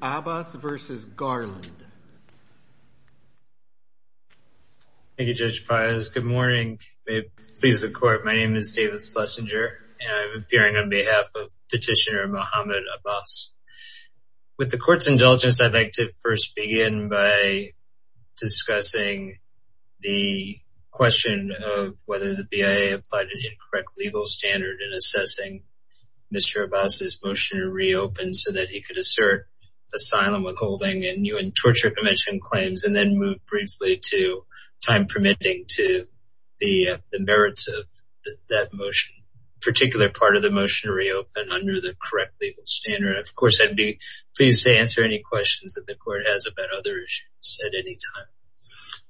Abbas versus Garland. Thank you, Judge Payes. Good morning. May it please the court. My name is David Schlesinger and I'm appearing on behalf of petitioner Mohamed Abbas. With the court's indulgence, I'd like to first begin by discussing the question of whether the BIA applied an incorrect legal standard in assessing Mr. Abbas's motion to reopen so that he could assert asylum withholding and U.N. Torture Convention claims and then move briefly to time permitting to the merits of that motion, particular part of the motion to reopen under the correct legal standard. Of course, I'd be pleased to answer any questions that the court has about other issues at any time.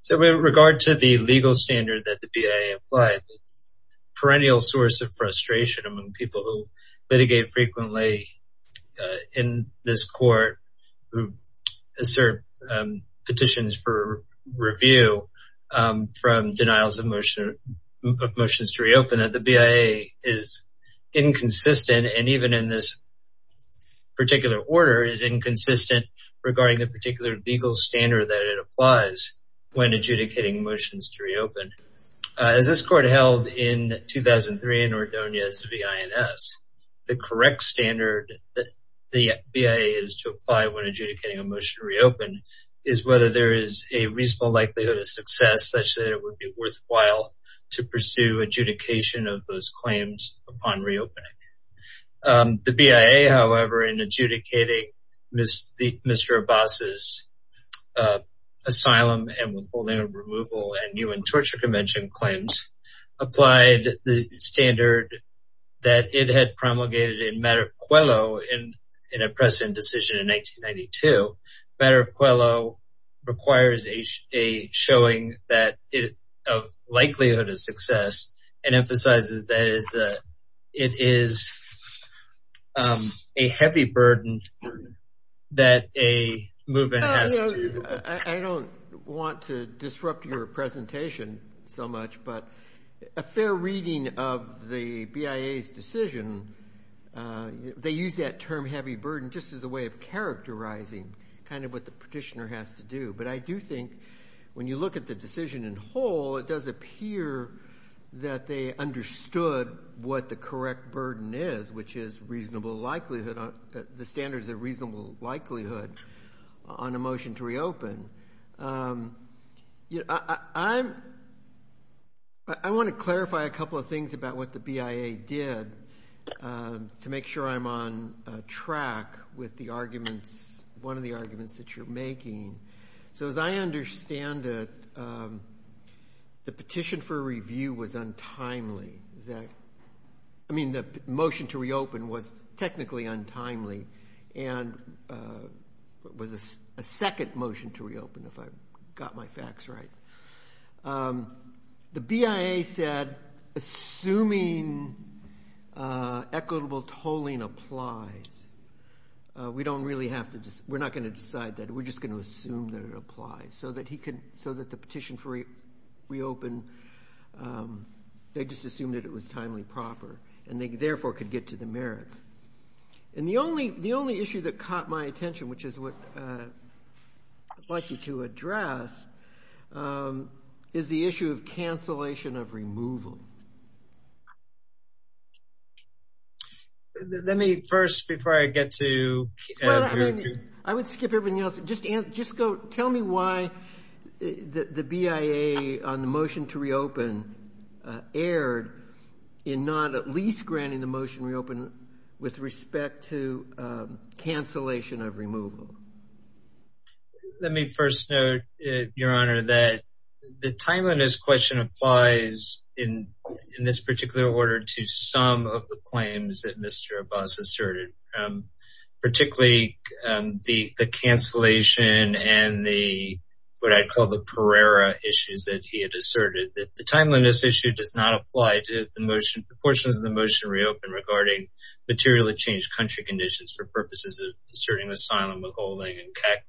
So with regard to the legal standard that the BIA applied, it's a perennial source of frustration among people who litigate frequently in this court who assert petitions for review from denials of motion of motions to reopen that the BIA is inconsistent and even in this particular order is inconsistent regarding the particular legal standard that it applies when adjudicating motions to reopen. As this court held in 2003 in Ordonez v. INS, the correct standard that the BIA is to apply when adjudicating a motion to reopen is whether there is a reasonable likelihood of success such that it would be worthwhile to pursue adjudication of those claims upon reopening. The BIA, however, in adjudicating Mr. Abbas' asylum and withholding of removal and UN Torture Convention claims, applied the standard that it had promulgated in Matter of Quello in a precedent decision in 1992. Matter of Quello requires a showing of likelihood of success and emphasizes that it is a heavy burden that a movement has to... I don't want to disrupt your presentation so much, but a fair reading of the BIA's decision, they use that term heavy burden just as a way of characterizing kind of what the petitioner has to do. But I do think when you look at the decision in whole, it does appear that they understood what the correct burden is, which is the standards of reasonable likelihood on a motion to reopen. I want to clarify a couple of things about what the BIA did to make sure I'm on track with one of the arguments that you're making. So as I understand it, the petition for review was untimely. I mean, the motion to reopen was technically untimely and was a second motion to reopen, if I've got my facts right. The BIA said, assuming equitable tolling applies, we're not going to decide that. We're just going to assume that it applies so that the petition for reopen, they just assumed that it was timely proper and they therefore could get to the merits. And the only issue that caught my attention, which is what I'd like you to address, is the issue of cancellation of removal. Let me first, before I get to... I would skip everything else. Just tell me why the BIA on the motion to reopen erred in not at least granting the motion to reopen with respect to cancellation of removal. Let me first note, Your Honor, that the timeliness question applies in this particular order to some of the claims that Mr. Abbas asserted, particularly the cancellation and what I'd call the Pereira issues that he had asserted. The timeliness issue does not apply to the portion of the motion to reopen regarding materially changed country conditions for purposes of asserting asylum withholding and CAC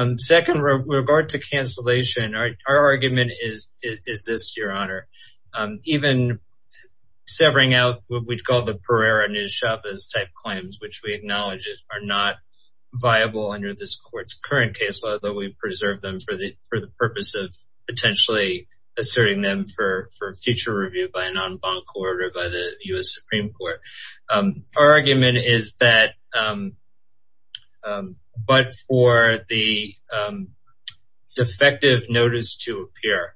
claims. Second, with regard to cancellation, our argument is this, Your Honor, even severing out what we'd call the Pereira-Nuez Chavez type claims, which we acknowledge are not viable under this court's current case law, though we preserve them for the purpose of potentially asserting them for future review by a non-bank court or by the U.S. Supreme Court. Our argument is that, but for the defective notice to appear,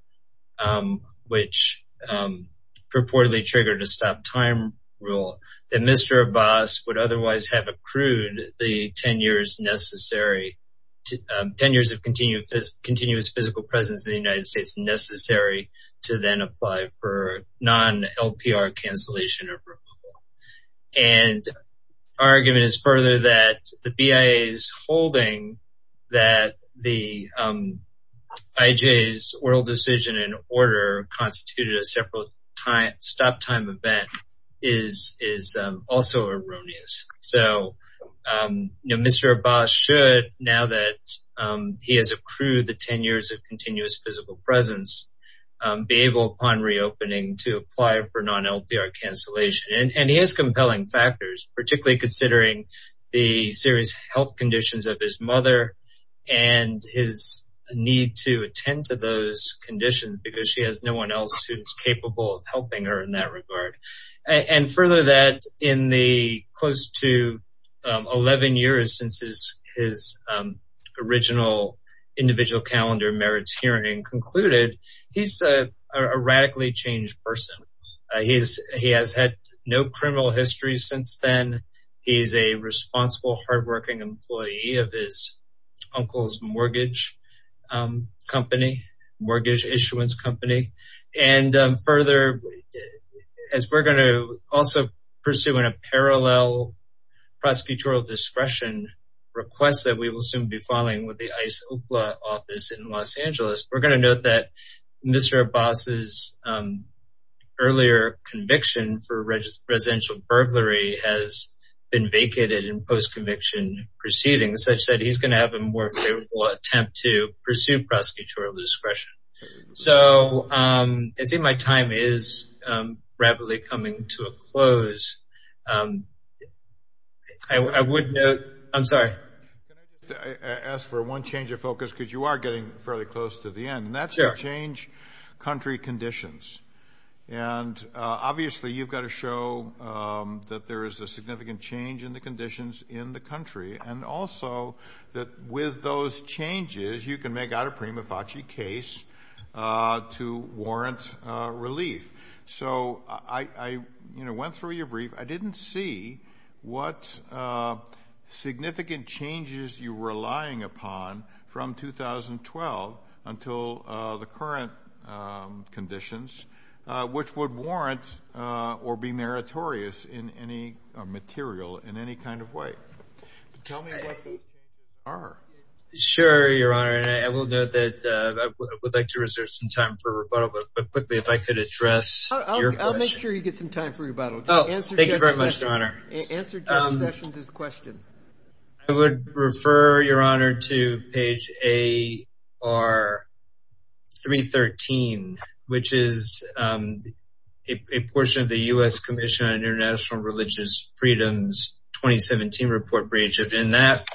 which purportedly triggered a stop time rule, that Mr. Abbas would otherwise have accrued the 10 years of continuous physical presence in the United States necessary to then apply for non-LPR cancellation of removal. And our argument is further that the BIA's holding that the IJ's oral decision and order constituted a separate stop time event is also erroneous. So, you know, Mr. Abbas should, now that he has accrued the 10 years of continuous physical presence, be able upon reopening to apply for non-LPR cancellation. And he has compelling factors, particularly considering the serious health conditions of his mother and his need to attend to those conditions because she has no one else who's capable of helping her in that regard. And further that in the close to 11 years since his original individual calendar merits hearing concluded, he's a radically changed person. He has had no criminal history since then. He's a responsible, hardworking employee of his uncle's mortgage company, mortgage issuance company. And further, as we're going to also pursue in a parallel prosecutorial discretion request that we will soon be following with the office in Los Angeles, we're going to note that Mr. Abbas's earlier conviction for residential burglary has been vacated in post-conviction proceedings, such that he's going to have a more favorable attempt to pursue prosecutorial discretion. So I see my time is rapidly coming to a close. I would note, I'm sorry. Can I just ask for one change of focus, because you are getting fairly close to the end. And that's the change country conditions. And obviously you've got to show that there is a significant change in the conditions in the country. And also that with those changes, you can make out a prima facie case to warrant relief. So I went through your brief. I didn't see what significant changes you were relying upon from 2012 until the current conditions, which would warrant or be meritorious in any material in any kind of way. Tell me what those changes are. Sure, Your Honor. And I will note that I could address your question. I'll make sure you get some time for rebuttal. Thank you very much, Your Honor. Answer John Sessions' question. I would refer, Your Honor, to page AR 313, which is a portion of the U.S. Commission on International Religious Freedoms 2017 Report for Egypt. In that,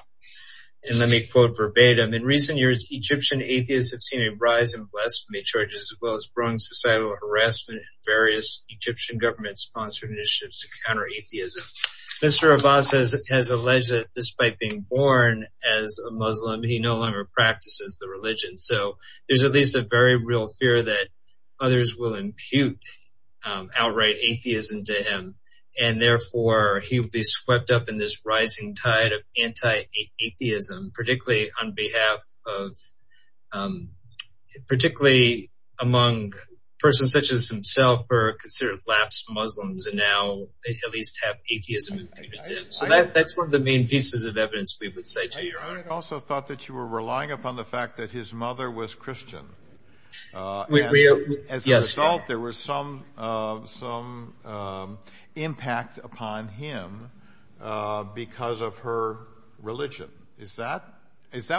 and let me quote verbatim, in recent years, Egyptian atheists have seen a rise in blasphemy charges as well as growing societal harassment in various Egyptian government-sponsored initiatives to counter atheism. Mr. Abbas has alleged that despite being born as a Muslim, he no longer practices the religion. So there's at least a very real fear that others will impute outright atheism to him, and therefore he will be swept up in this rising tide of anti-atheism, particularly on behalf of, particularly among persons such as himself who are considered lapsed Muslims and now at least have atheism imputed to them. So that's one of the main pieces of evidence we would say to Your Honor. I also thought that you were relying upon the fact that his mother was Christian. As a result, there was some impact upon him because of her religion. Is that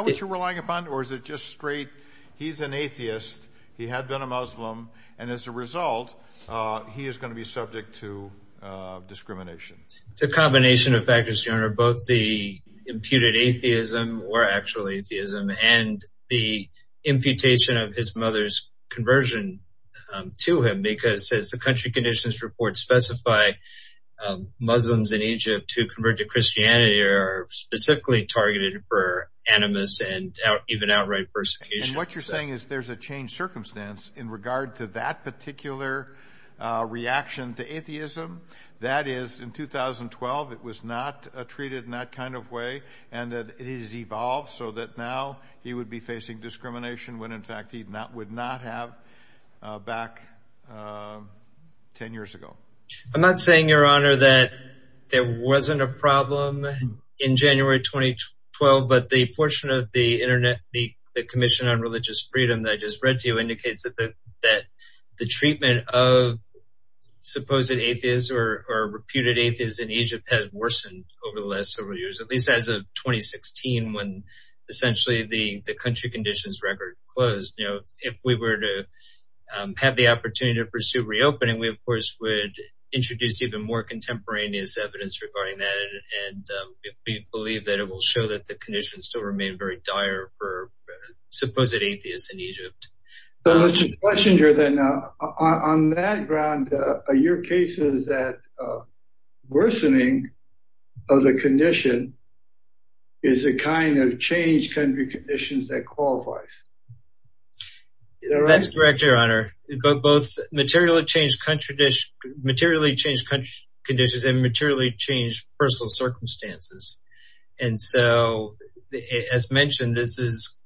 what you're relying upon, or is it just straight, he's an atheist, he had been a Muslim, and as a result, he is going to be subject to discrimination? It's a combination of factors, Your Honor, both the imputed atheism, or actual atheism, and the imputation of his mother's conversion to him, because as the country conditions report specify, Muslims in Egypt who convert to Christianity are specifically targeted for animus and even outright persecution. And what you're saying is there's a changed circumstance in regard to that particular reaction to atheism? That is, in 2012, it was not treated in that kind of way, and it has evolved so that now he would be facing discrimination when in fact he would not have back 10 years ago. I'm not saying, Your Honor, that there wasn't a problem in January 2012, but the portion of the Commission on Religious Freedom that I just read to you indicates that the treatment of supposed atheists or reputed atheists in Egypt has worsened over the last several years, at least as of 2016, when essentially the country conditions record closed. If we were to have the opportunity to pursue reopening, we of course would introduce even more contemporaneous evidence regarding that, and we believe that it will show that the conditions still remain very dire for supposed atheists in Egypt. So let's just question here then, on that ground, are your cases that worsening of the condition is a kind of changed country conditions that qualifies? That's correct, Your Honor. Both materially changed country conditions and materially changed personal circumstances. And so, as mentioned, this is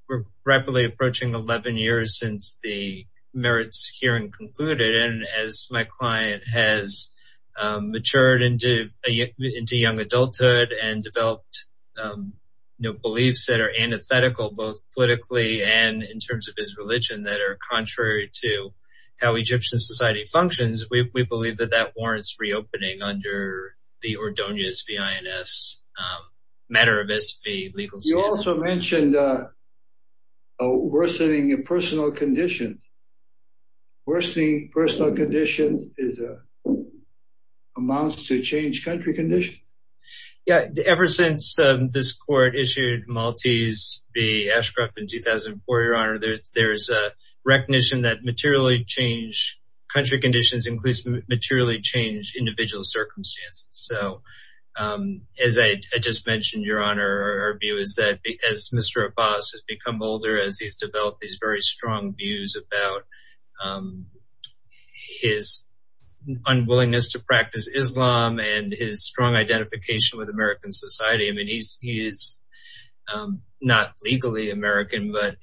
rapidly approaching 11 years since the merits hearing concluded, and as my client has matured into young adulthood and that are contrary to how Egyptian society functions, we believe that that warrants reopening under the Ordonius v. INS matter of SV legal scheme. You also mentioned worsening of personal conditions. Worsening personal conditions amounts to changed country conditions. Yeah, ever since this Court issued Maltese v. Ashcroft in 2004, Your Honor, there's a recognition that materially changed country conditions includes materially changed individual circumstances. So, as I just mentioned, Your Honor, our view is that as Mr. Abbas has become older, as he's developed these very strong views about his unwillingness to practice Islam and his strong identification with American society, he's not legally American, but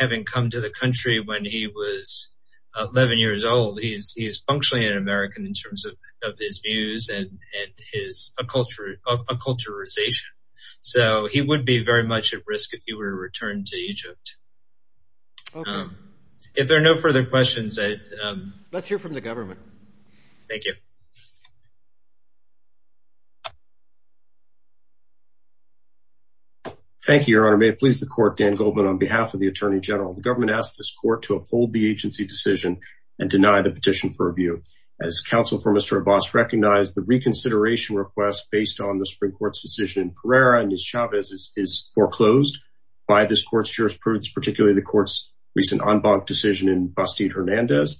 having come to the country when he was 11 years old, he's functionally an American in terms of his views and his acculturation. So, he would be very much at risk if he were to return to Egypt. If there are no further questions, let's hear from the government. Thank you. Thank you, Your Honor. May it please the Court, Dan Goldman, on behalf of the Attorney General. The government asks this Court to uphold the agency decision and deny the petition for review. As counsel for Mr. Abbas recognized, the reconsideration request based on the Supreme Court's decision in Pereira and Ms. Chavez is foreclosed by this Court's jurisprudence, particularly the Court's recent en banc decision in Bastille-Hernandez.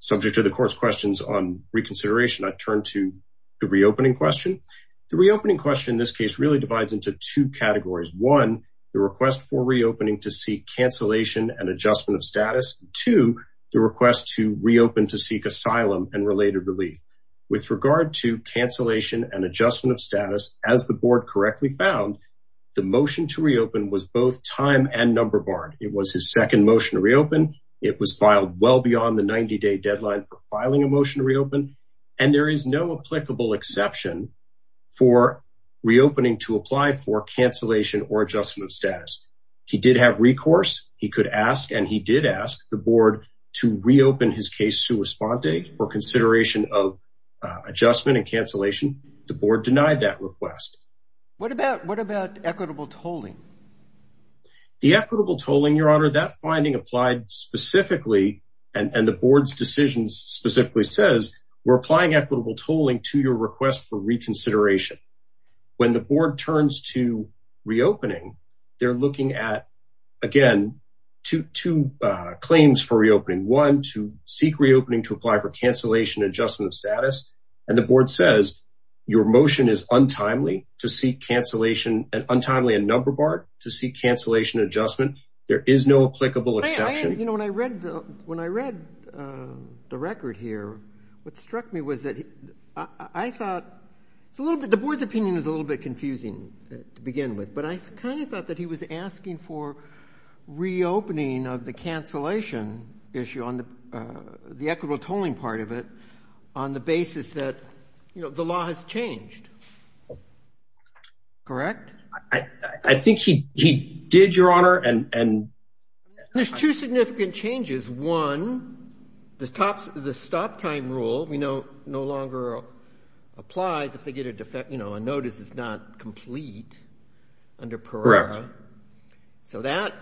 Subject to the Court's questions on reconsideration, I turn to the reopening question. The reopening question really divides into two categories. One, the request for reopening to seek cancellation and adjustment of status. Two, the request to reopen to seek asylum and related relief. With regard to cancellation and adjustment of status, as the Board correctly found, the motion to reopen was both time and number barred. It was his second motion to reopen. It was filed well beyond the 90-day deadline for filing a motion to reopen, and there is no applicable exception for reopening to apply for cancellation or adjustment of status. He did have recourse. He could ask, and he did ask, the Board to reopen his case to respond date for consideration of adjustment and cancellation. The Board denied that request. What about equitable tolling? The equitable tolling, Your Honor, that finding applied specifically, and the Board's decision specifically says, we're applying equitable tolling to your request for reconsideration. When the Board turns to reopening, they're looking at, again, two claims for reopening. One, to seek reopening to apply for cancellation and adjustment of status. And the Board says, your motion is untimely to seek cancellation and untimely and number barred to seek cancellation and adjustment. There is no applicable exception. You know, when I read the record here, what struck me was that I thought, it's a little bit, the Board's opinion is a little bit confusing to begin with, but I kind of thought that he was asking for reopening of the cancellation issue on the equitable tolling part of it on the basis that, you know, the law has changed. I think he did, Your Honor. And there's two significant changes. One, the stop time rule, you know, no longer applies if they get a defect, you know, a notice is not complete under PERARA. So that,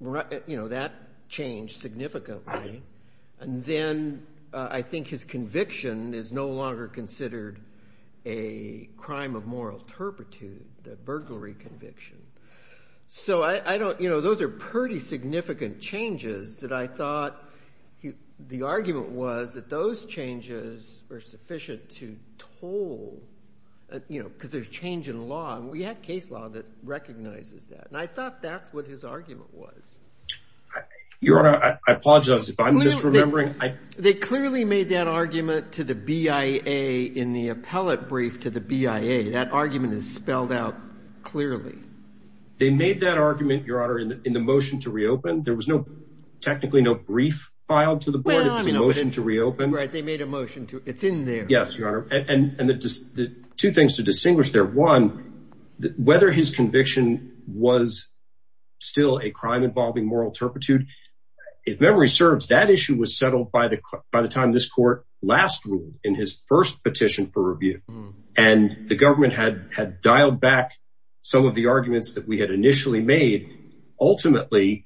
you know, that changed significantly. And then I think his conviction is no longer considered a crime of moral turpitude, the burglary conviction. So I don't, you know, those are pretty significant changes that I thought, the argument was that those changes were sufficient to toll, you know, because there's change in law and we had case law that recognizes that. And I thought that's what his argument was. Your Honor, I apologize if I'm misremembering. They clearly made that argument to the BIA in the appellate brief to the BIA. That argument is spelled out clearly. They made that argument, Your Honor, in the motion to reopen. There was no, technically no brief filed to the Board. It was a motion to reopen. Right. They made a motion to, it's in there. Yes, Your Honor. And the two things to distinguish there, one, whether his conviction was still a crime involving moral turpitude, if memory serves, that issue was settled by the time this Court last ruled in his first petition for review. And the government had dialed back some of the arguments that we had initially made. Ultimately,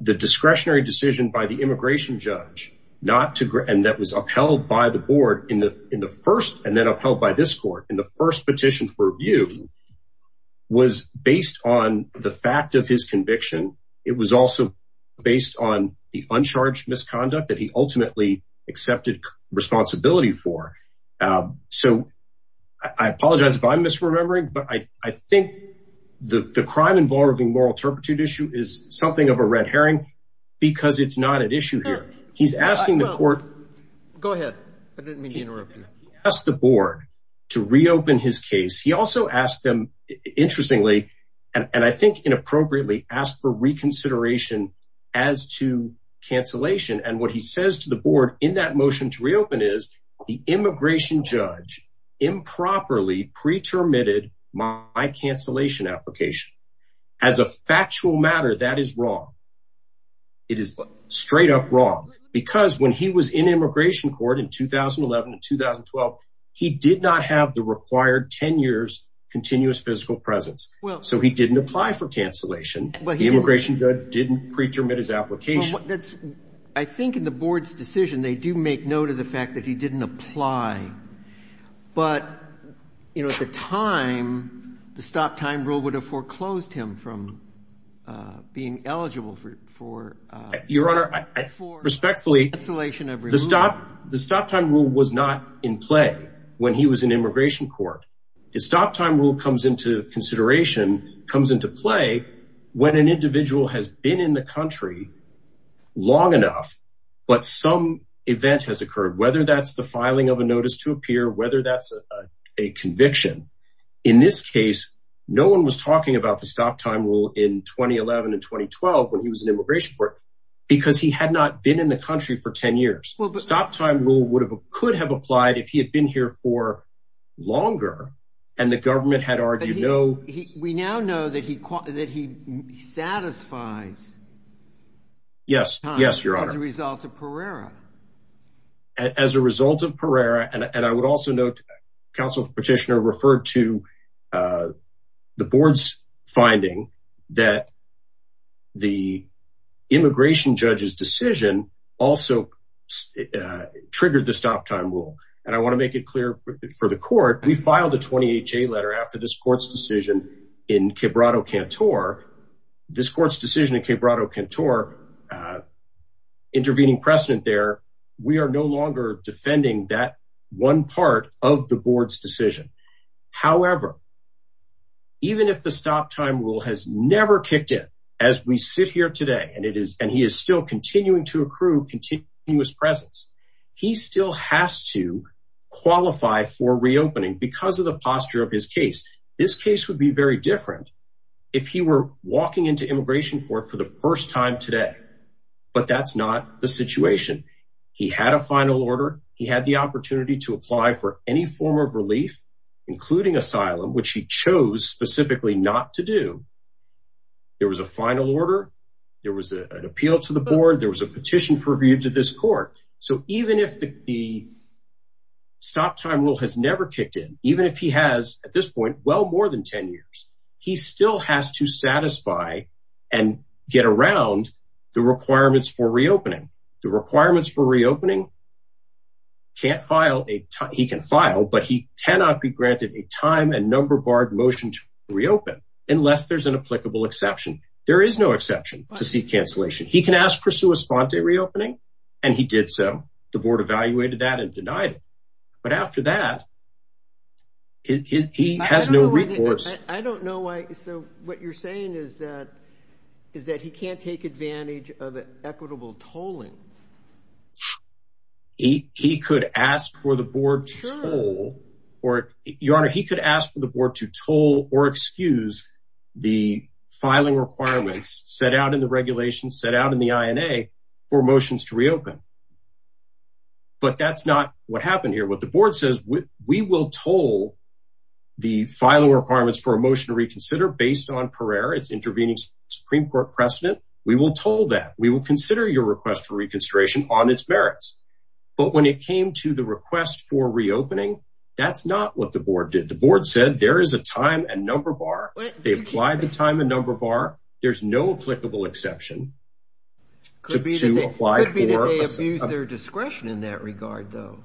the discretionary decision by the immigration judge, not to, and that was upheld by the Board in the first, and then upheld by this Court in the first petition for review, was based on the fact of his conviction. It was also based on the uncharged misconduct that he ultimately accepted responsibility for. So I apologize if I'm misremembering, but I think the crime involving moral turpitude issue is something of a red herring because it's not an issue here. He's asking the Court- Go ahead. I didn't mean to interrupt. He asked the Board to reopen his case. He also asked them, interestingly, and I think inappropriately, asked for reconsideration as to cancellation. And what he says to the Board in that motion to reopen is, the immigration judge improperly pre-terminated my cancellation application. As a factual matter, that is wrong. It is straight up wrong. Because when he was in 2012, he did not have the required 10 years continuous physical presence. So he didn't apply for cancellation. The immigration judge didn't pre-terminate his application. I think in the Board's decision, they do make note of the fact that he didn't apply. But at the time, the stop time rule would have foreclosed him from being eligible for- Your Honor, respectfully, the stop time rule was not in play when he was in immigration court. The stop time rule comes into consideration, comes into play when an individual has been in the country long enough, but some event has occurred, whether that's the filing of a notice to appear, whether that's a conviction. In this case, no one was talking about the stop time rule in 2011 and 2012 when he was in immigration court because he had not been in the country for 10 years. The stop time rule could have applied if he had been here for longer and the government had argued no- We now know that he satisfies- Yes. Yes, Your Honor. As a result of Pereira. As a result of Pereira, and I would also note, counsel petitioner referred to the Board's finding that the immigration judge's decision also triggered the stop time rule. And I want to make it clear for the court, we filed a 28-J letter after this court's decision in Quebrado Cantor. This court's decision in Quebrado Cantor, intervening precedent there, we are no longer defending that one part of the Board's decision. However, even if the stop time rule has never kicked in as we sit here today, and he is still continuing to accrue continuous presence, he still has to qualify for reopening because of the posture of his case. This case would be very different if he were walking into immigration court for the first time today. But that's not the situation. He had a final order. He had the opportunity to apply for any form of relief, including asylum, which he chose specifically not to do. There was a final order. There was an appeal to the Board. There was a petition for review to this court. So even if the stop time rule has never kicked in, even if he has well more than 10 years, he still has to satisfy and get around the requirements for reopening. The requirements for reopening, he can file, but he cannot be granted a time and number barred motion to reopen unless there's an applicable exception. There is no exception to seat cancellation. He can ask for sua sponte reopening, and he did so. The Board evaluated that and denied it. But after that, he has no recourse. I don't know why. So what you're saying is that is that he can't take advantage of equitable tolling. He could ask for the Board to toll or, Your Honor, he could ask for the Board to toll or excuse the filing requirements set out in the regulations set out in the INA for motions to reopen. But that's not what happened here. What the Board says, we will toll the filing requirements for a motion to reconsider based on perere. It's intervening Supreme Court precedent. We will toll that. We will consider your request for reconstruction on its merits. But when it came to the request for reopening, that's not what the Board did. The Board said there is a time and number bar. They applied the time and number bar. There's no applicable exception to apply for. It could be that they abused their discretion in that regard, though.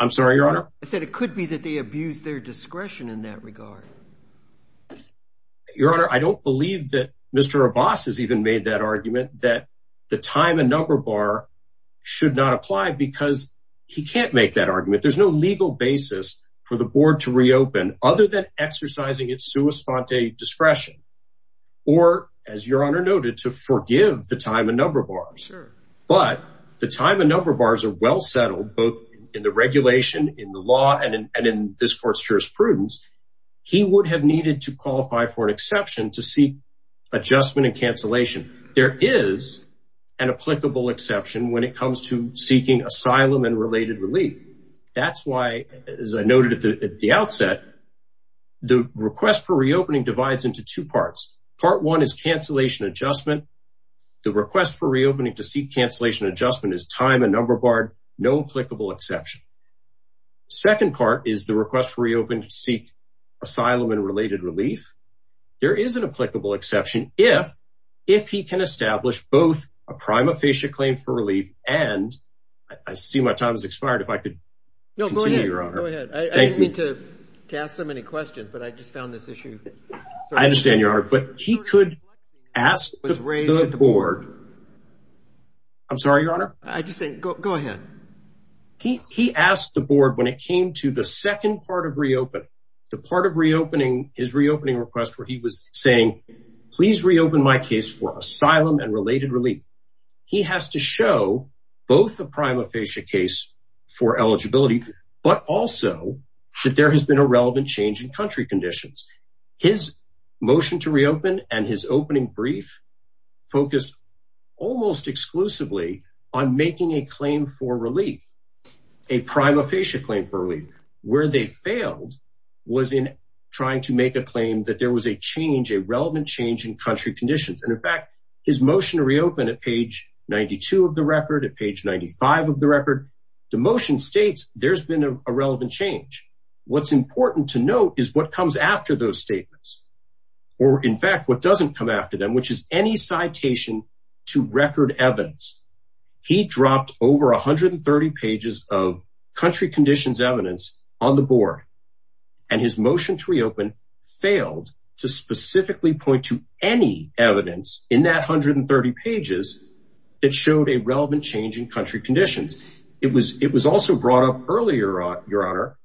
I'm sorry, Your Honor. I said it could be that they abused their discretion in that regard. Your Honor, I don't believe that Mr. Abbas has even made that argument that the time and number bar should not apply because he can't make that argument. There's no legal basis for the Board to forgive the time and number bars. But the time and number bars are well settled both in the regulation, in the law, and in this Court's jurisprudence. He would have needed to qualify for an exception to seek adjustment and cancellation. There is an applicable exception when it comes to seeking asylum and related relief. That's why, as I noted at the outset, the request for reopening divides into two parts. Part one is cancellation adjustment. The request for reopening to seek cancellation adjustment is time and number barred. No applicable exception. The second part is the request for reopening to seek asylum and related relief. There is an applicable exception if he can establish both a prima facie claim for relief and I see my time has expired. If I could continue, Your Honor. Go ahead. I didn't mean to ask so many questions, but I just found this issue. I understand, Your Honor, but he could ask the Board. I'm sorry, Your Honor. I just think, go ahead. He asked the Board when it came to the second part of reopening, the part of reopening his reopening request where he was saying, please reopen my case for asylum and related relief. He has to show both the prima facie case for eligibility, but also that there has been a relevant change in country conditions. His motion to reopen and his opening brief focused almost exclusively on making a claim for relief, a prima facie claim for relief. Where they failed was in trying to make a claim that there was a change, a relevant change in country conditions. And in fact, his motion to reopen at page 92 of the record, at page 95 of the record, the motion states there's been a relevant change. What's important to note is what comes after those statements or in fact, what doesn't come after them, which is any citation to record evidence. He dropped over 130 pages of country conditions evidence on the Board and his motion to reopen failed to specifically point to any evidence in that 130 pages that showed a relevant change in country conditions. It was also brought up earlier, Your Honor,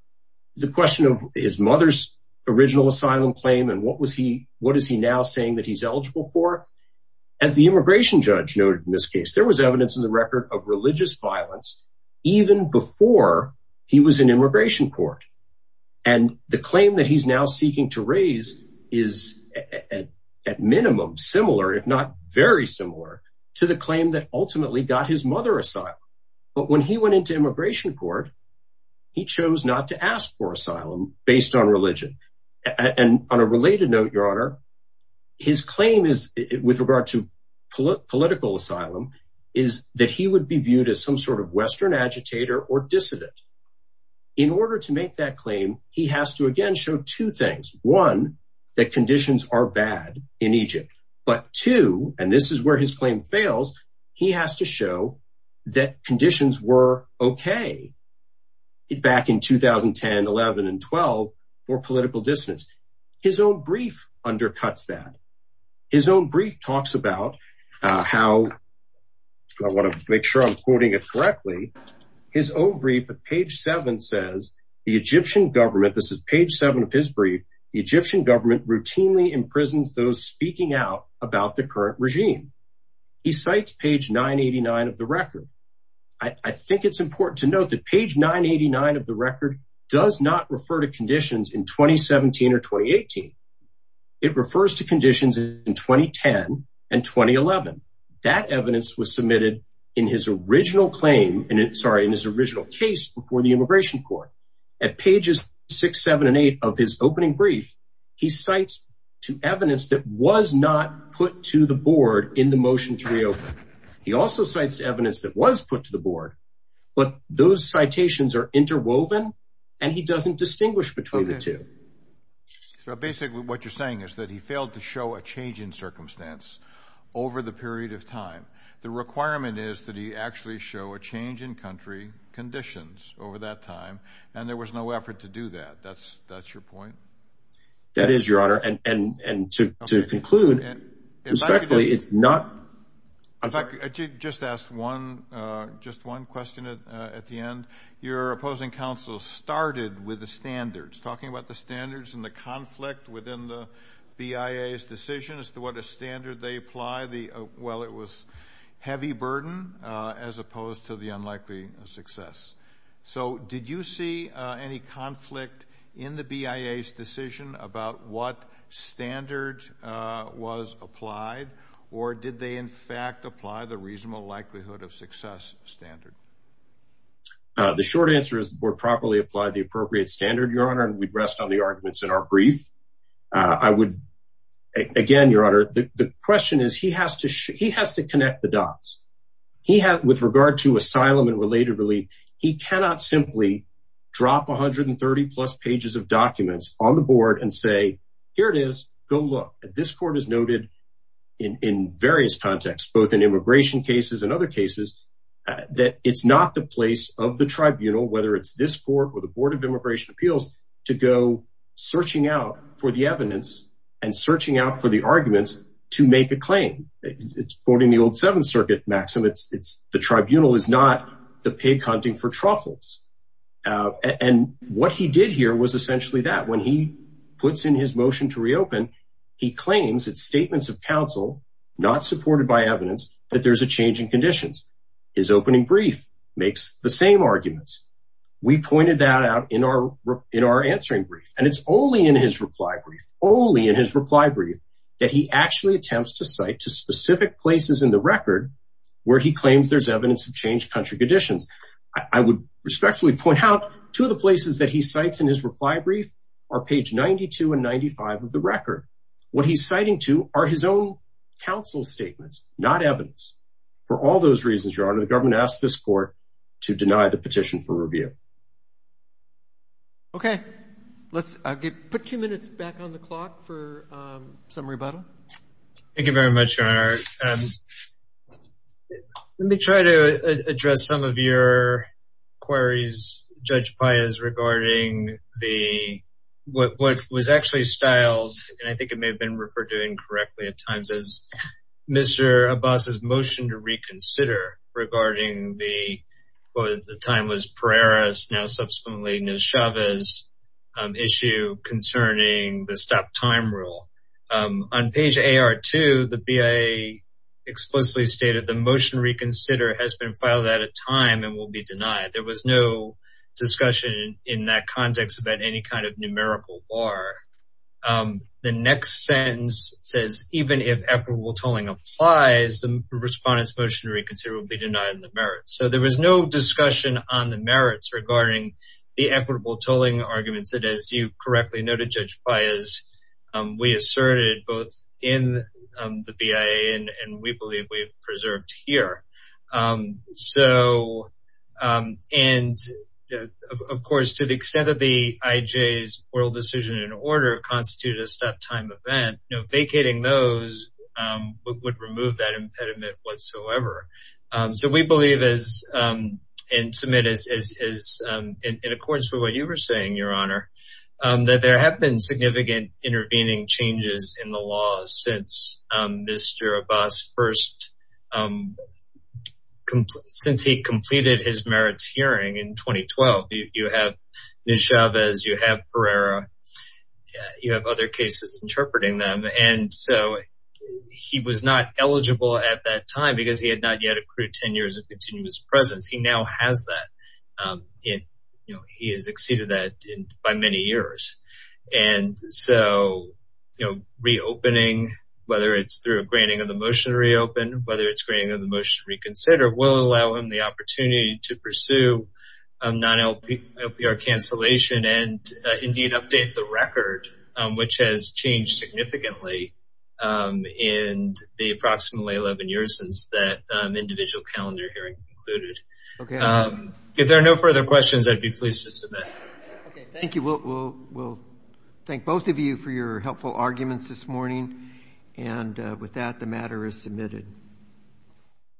the question of his mother's original asylum claim and what is he now saying that he's eligible for. As the immigration judge noted in this case, there was evidence in the record of religious violence even before he was in immigration court. And the claim that he's now seeking to raise is at minimum similar, if not very similar, to the claim that ultimately got his mother asylum. But when he went into immigration court, he chose not to ask for asylum based on religion. And on a related note, Your Honor, his claim is with regard to political asylum is that he would be viewed as some sort of Western agitator or dissident. In order to make that claim, he has to again show two things. One, that conditions are bad in Egypt. But two, and this is where his claim fails, he has to show that conditions were okay back in 2010, 11, and 12 for political dissidents. His own brief undercuts that. His own brief talks about how, I want to make sure I'm quoting it correctly. His own brief at page seven says, the Egyptian government, this is page seven of his brief, the Egyptian government routinely imprisons those speaking out about the current regime. He cites page 989 of the record. I think it's important to note that page 989 of the record does not refer to conditions in 2017 or 2018. It refers to conditions in 2010 and 2011. That evidence was submitted in his original claim, sorry, in his original case before the immigration court. At pages six, seven, and eight of his opening brief, he cites to evidence that was not put to the board in the motion to reopen. He also cites evidence that was put to the board, but those citations are interwoven, and he doesn't distinguish between the two. Basically, what you're saying is that he failed to show a change in circumstance over the period of time. The requirement is that he actually show a change in country conditions over that time, and there was no effort to do that. That's your point? That is your honor, and to conclude, respectfully, it's not... Just ask one question at the end. Your opposing counsel started with the standards, talking about the standards and the conflict within the BIA's decision as to what a standard they apply. Well, it was heavy burden as opposed to the unlikely success. Did you see any conflict in the BIA's decision about what standard was applied, or did they in fact apply the reasonable likelihood of success standard? The short answer is the board properly applied the appropriate standard, your honor, and we'd rest on the arguments in our brief. Again, your honor, the question is he has to connect the dots. With regard to asylum and related relief, he cannot simply drop 130-plus pages of documents on the board and say, here it is, go look. This court has noted in various contexts, both in immigration cases and other cases, that it's not the place of the tribunal, whether it's this court or the Board of Immigration Appeals, to go searching out for the evidence and searching out for the arguments to make a claim. It's quoting the old Seventh Circuit maxim, it's the tribunal is not the pig hunting for truffles. And what he did here was essentially that, when he puts in his motion to reopen, he claims it's statements of counsel, not supported by evidence, that there's a change in conditions. His opening brief makes the same arguments. We pointed that out in our answering brief, and it's only in his reply brief, only in his reply brief, that he actually attempts to cite to specific places in the record where he claims there's evidence of changed country conditions. I would respectfully point out, two of the places that he cites in his reply brief are page 92 and 95 of the record. What he's citing to are his own counsel statements, not evidence. For all those reasons, Your Honor, the government asked this court to deny the petition for review. Okay, let's put two minutes back on the clock for some rebuttal. Thank you very much, Your Honor. Let me try to address some of your queries, Judge Páez, regarding what was actually styled, and I think it may have been referred to incorrectly at times, as Mr. Abbas's motion to reconsider regarding what at the time was Pereira's, now subsequently Neshava's, issue concerning the stop time rule. On page AR2, the BIA explicitly stated, the motion to reconsider has been filed at a time and will be denied. There was no discussion in that context about any kind of numerical bar. The next sentence says, even if equitable tolling applies, the respondent's motion to reconsider will be denied in the merits. There was no discussion on the merits regarding the equitable tolling arguments that, as you correctly noted, Judge Páez, we asserted both in the BIA and we believe we've preserved here. Of course, to the extent that the IJ's oral decision in order constituted a stop time event, vacating those would remove that impediment whatsoever. We believe, and submit in accordance with what you were saying, Your Honor, that there have been significant intervening changes in the law since Mr. Abbas first, since he completed his merits hearing in 2012. You have Neshava's, you have Pereira, you have other cases interpreting them. He was not eligible at that time because he had not yet accrued 10 years of continuous presence. He now has that. He has exceeded that by many years. Reopening, whether it's through a granting of the motion to reopen, whether it's granting of the motion to reconsider, will allow him the opportunity to pursue non-LPR cancellation and indeed update the record, which has changed significantly in the approximately 11 years since that individual calendar hearing concluded. If there are no further questions, I'd be pleased to submit. Okay. Thank you. We'll thank both of you for your helpful arguments this morning. And with that, the matter is submitted.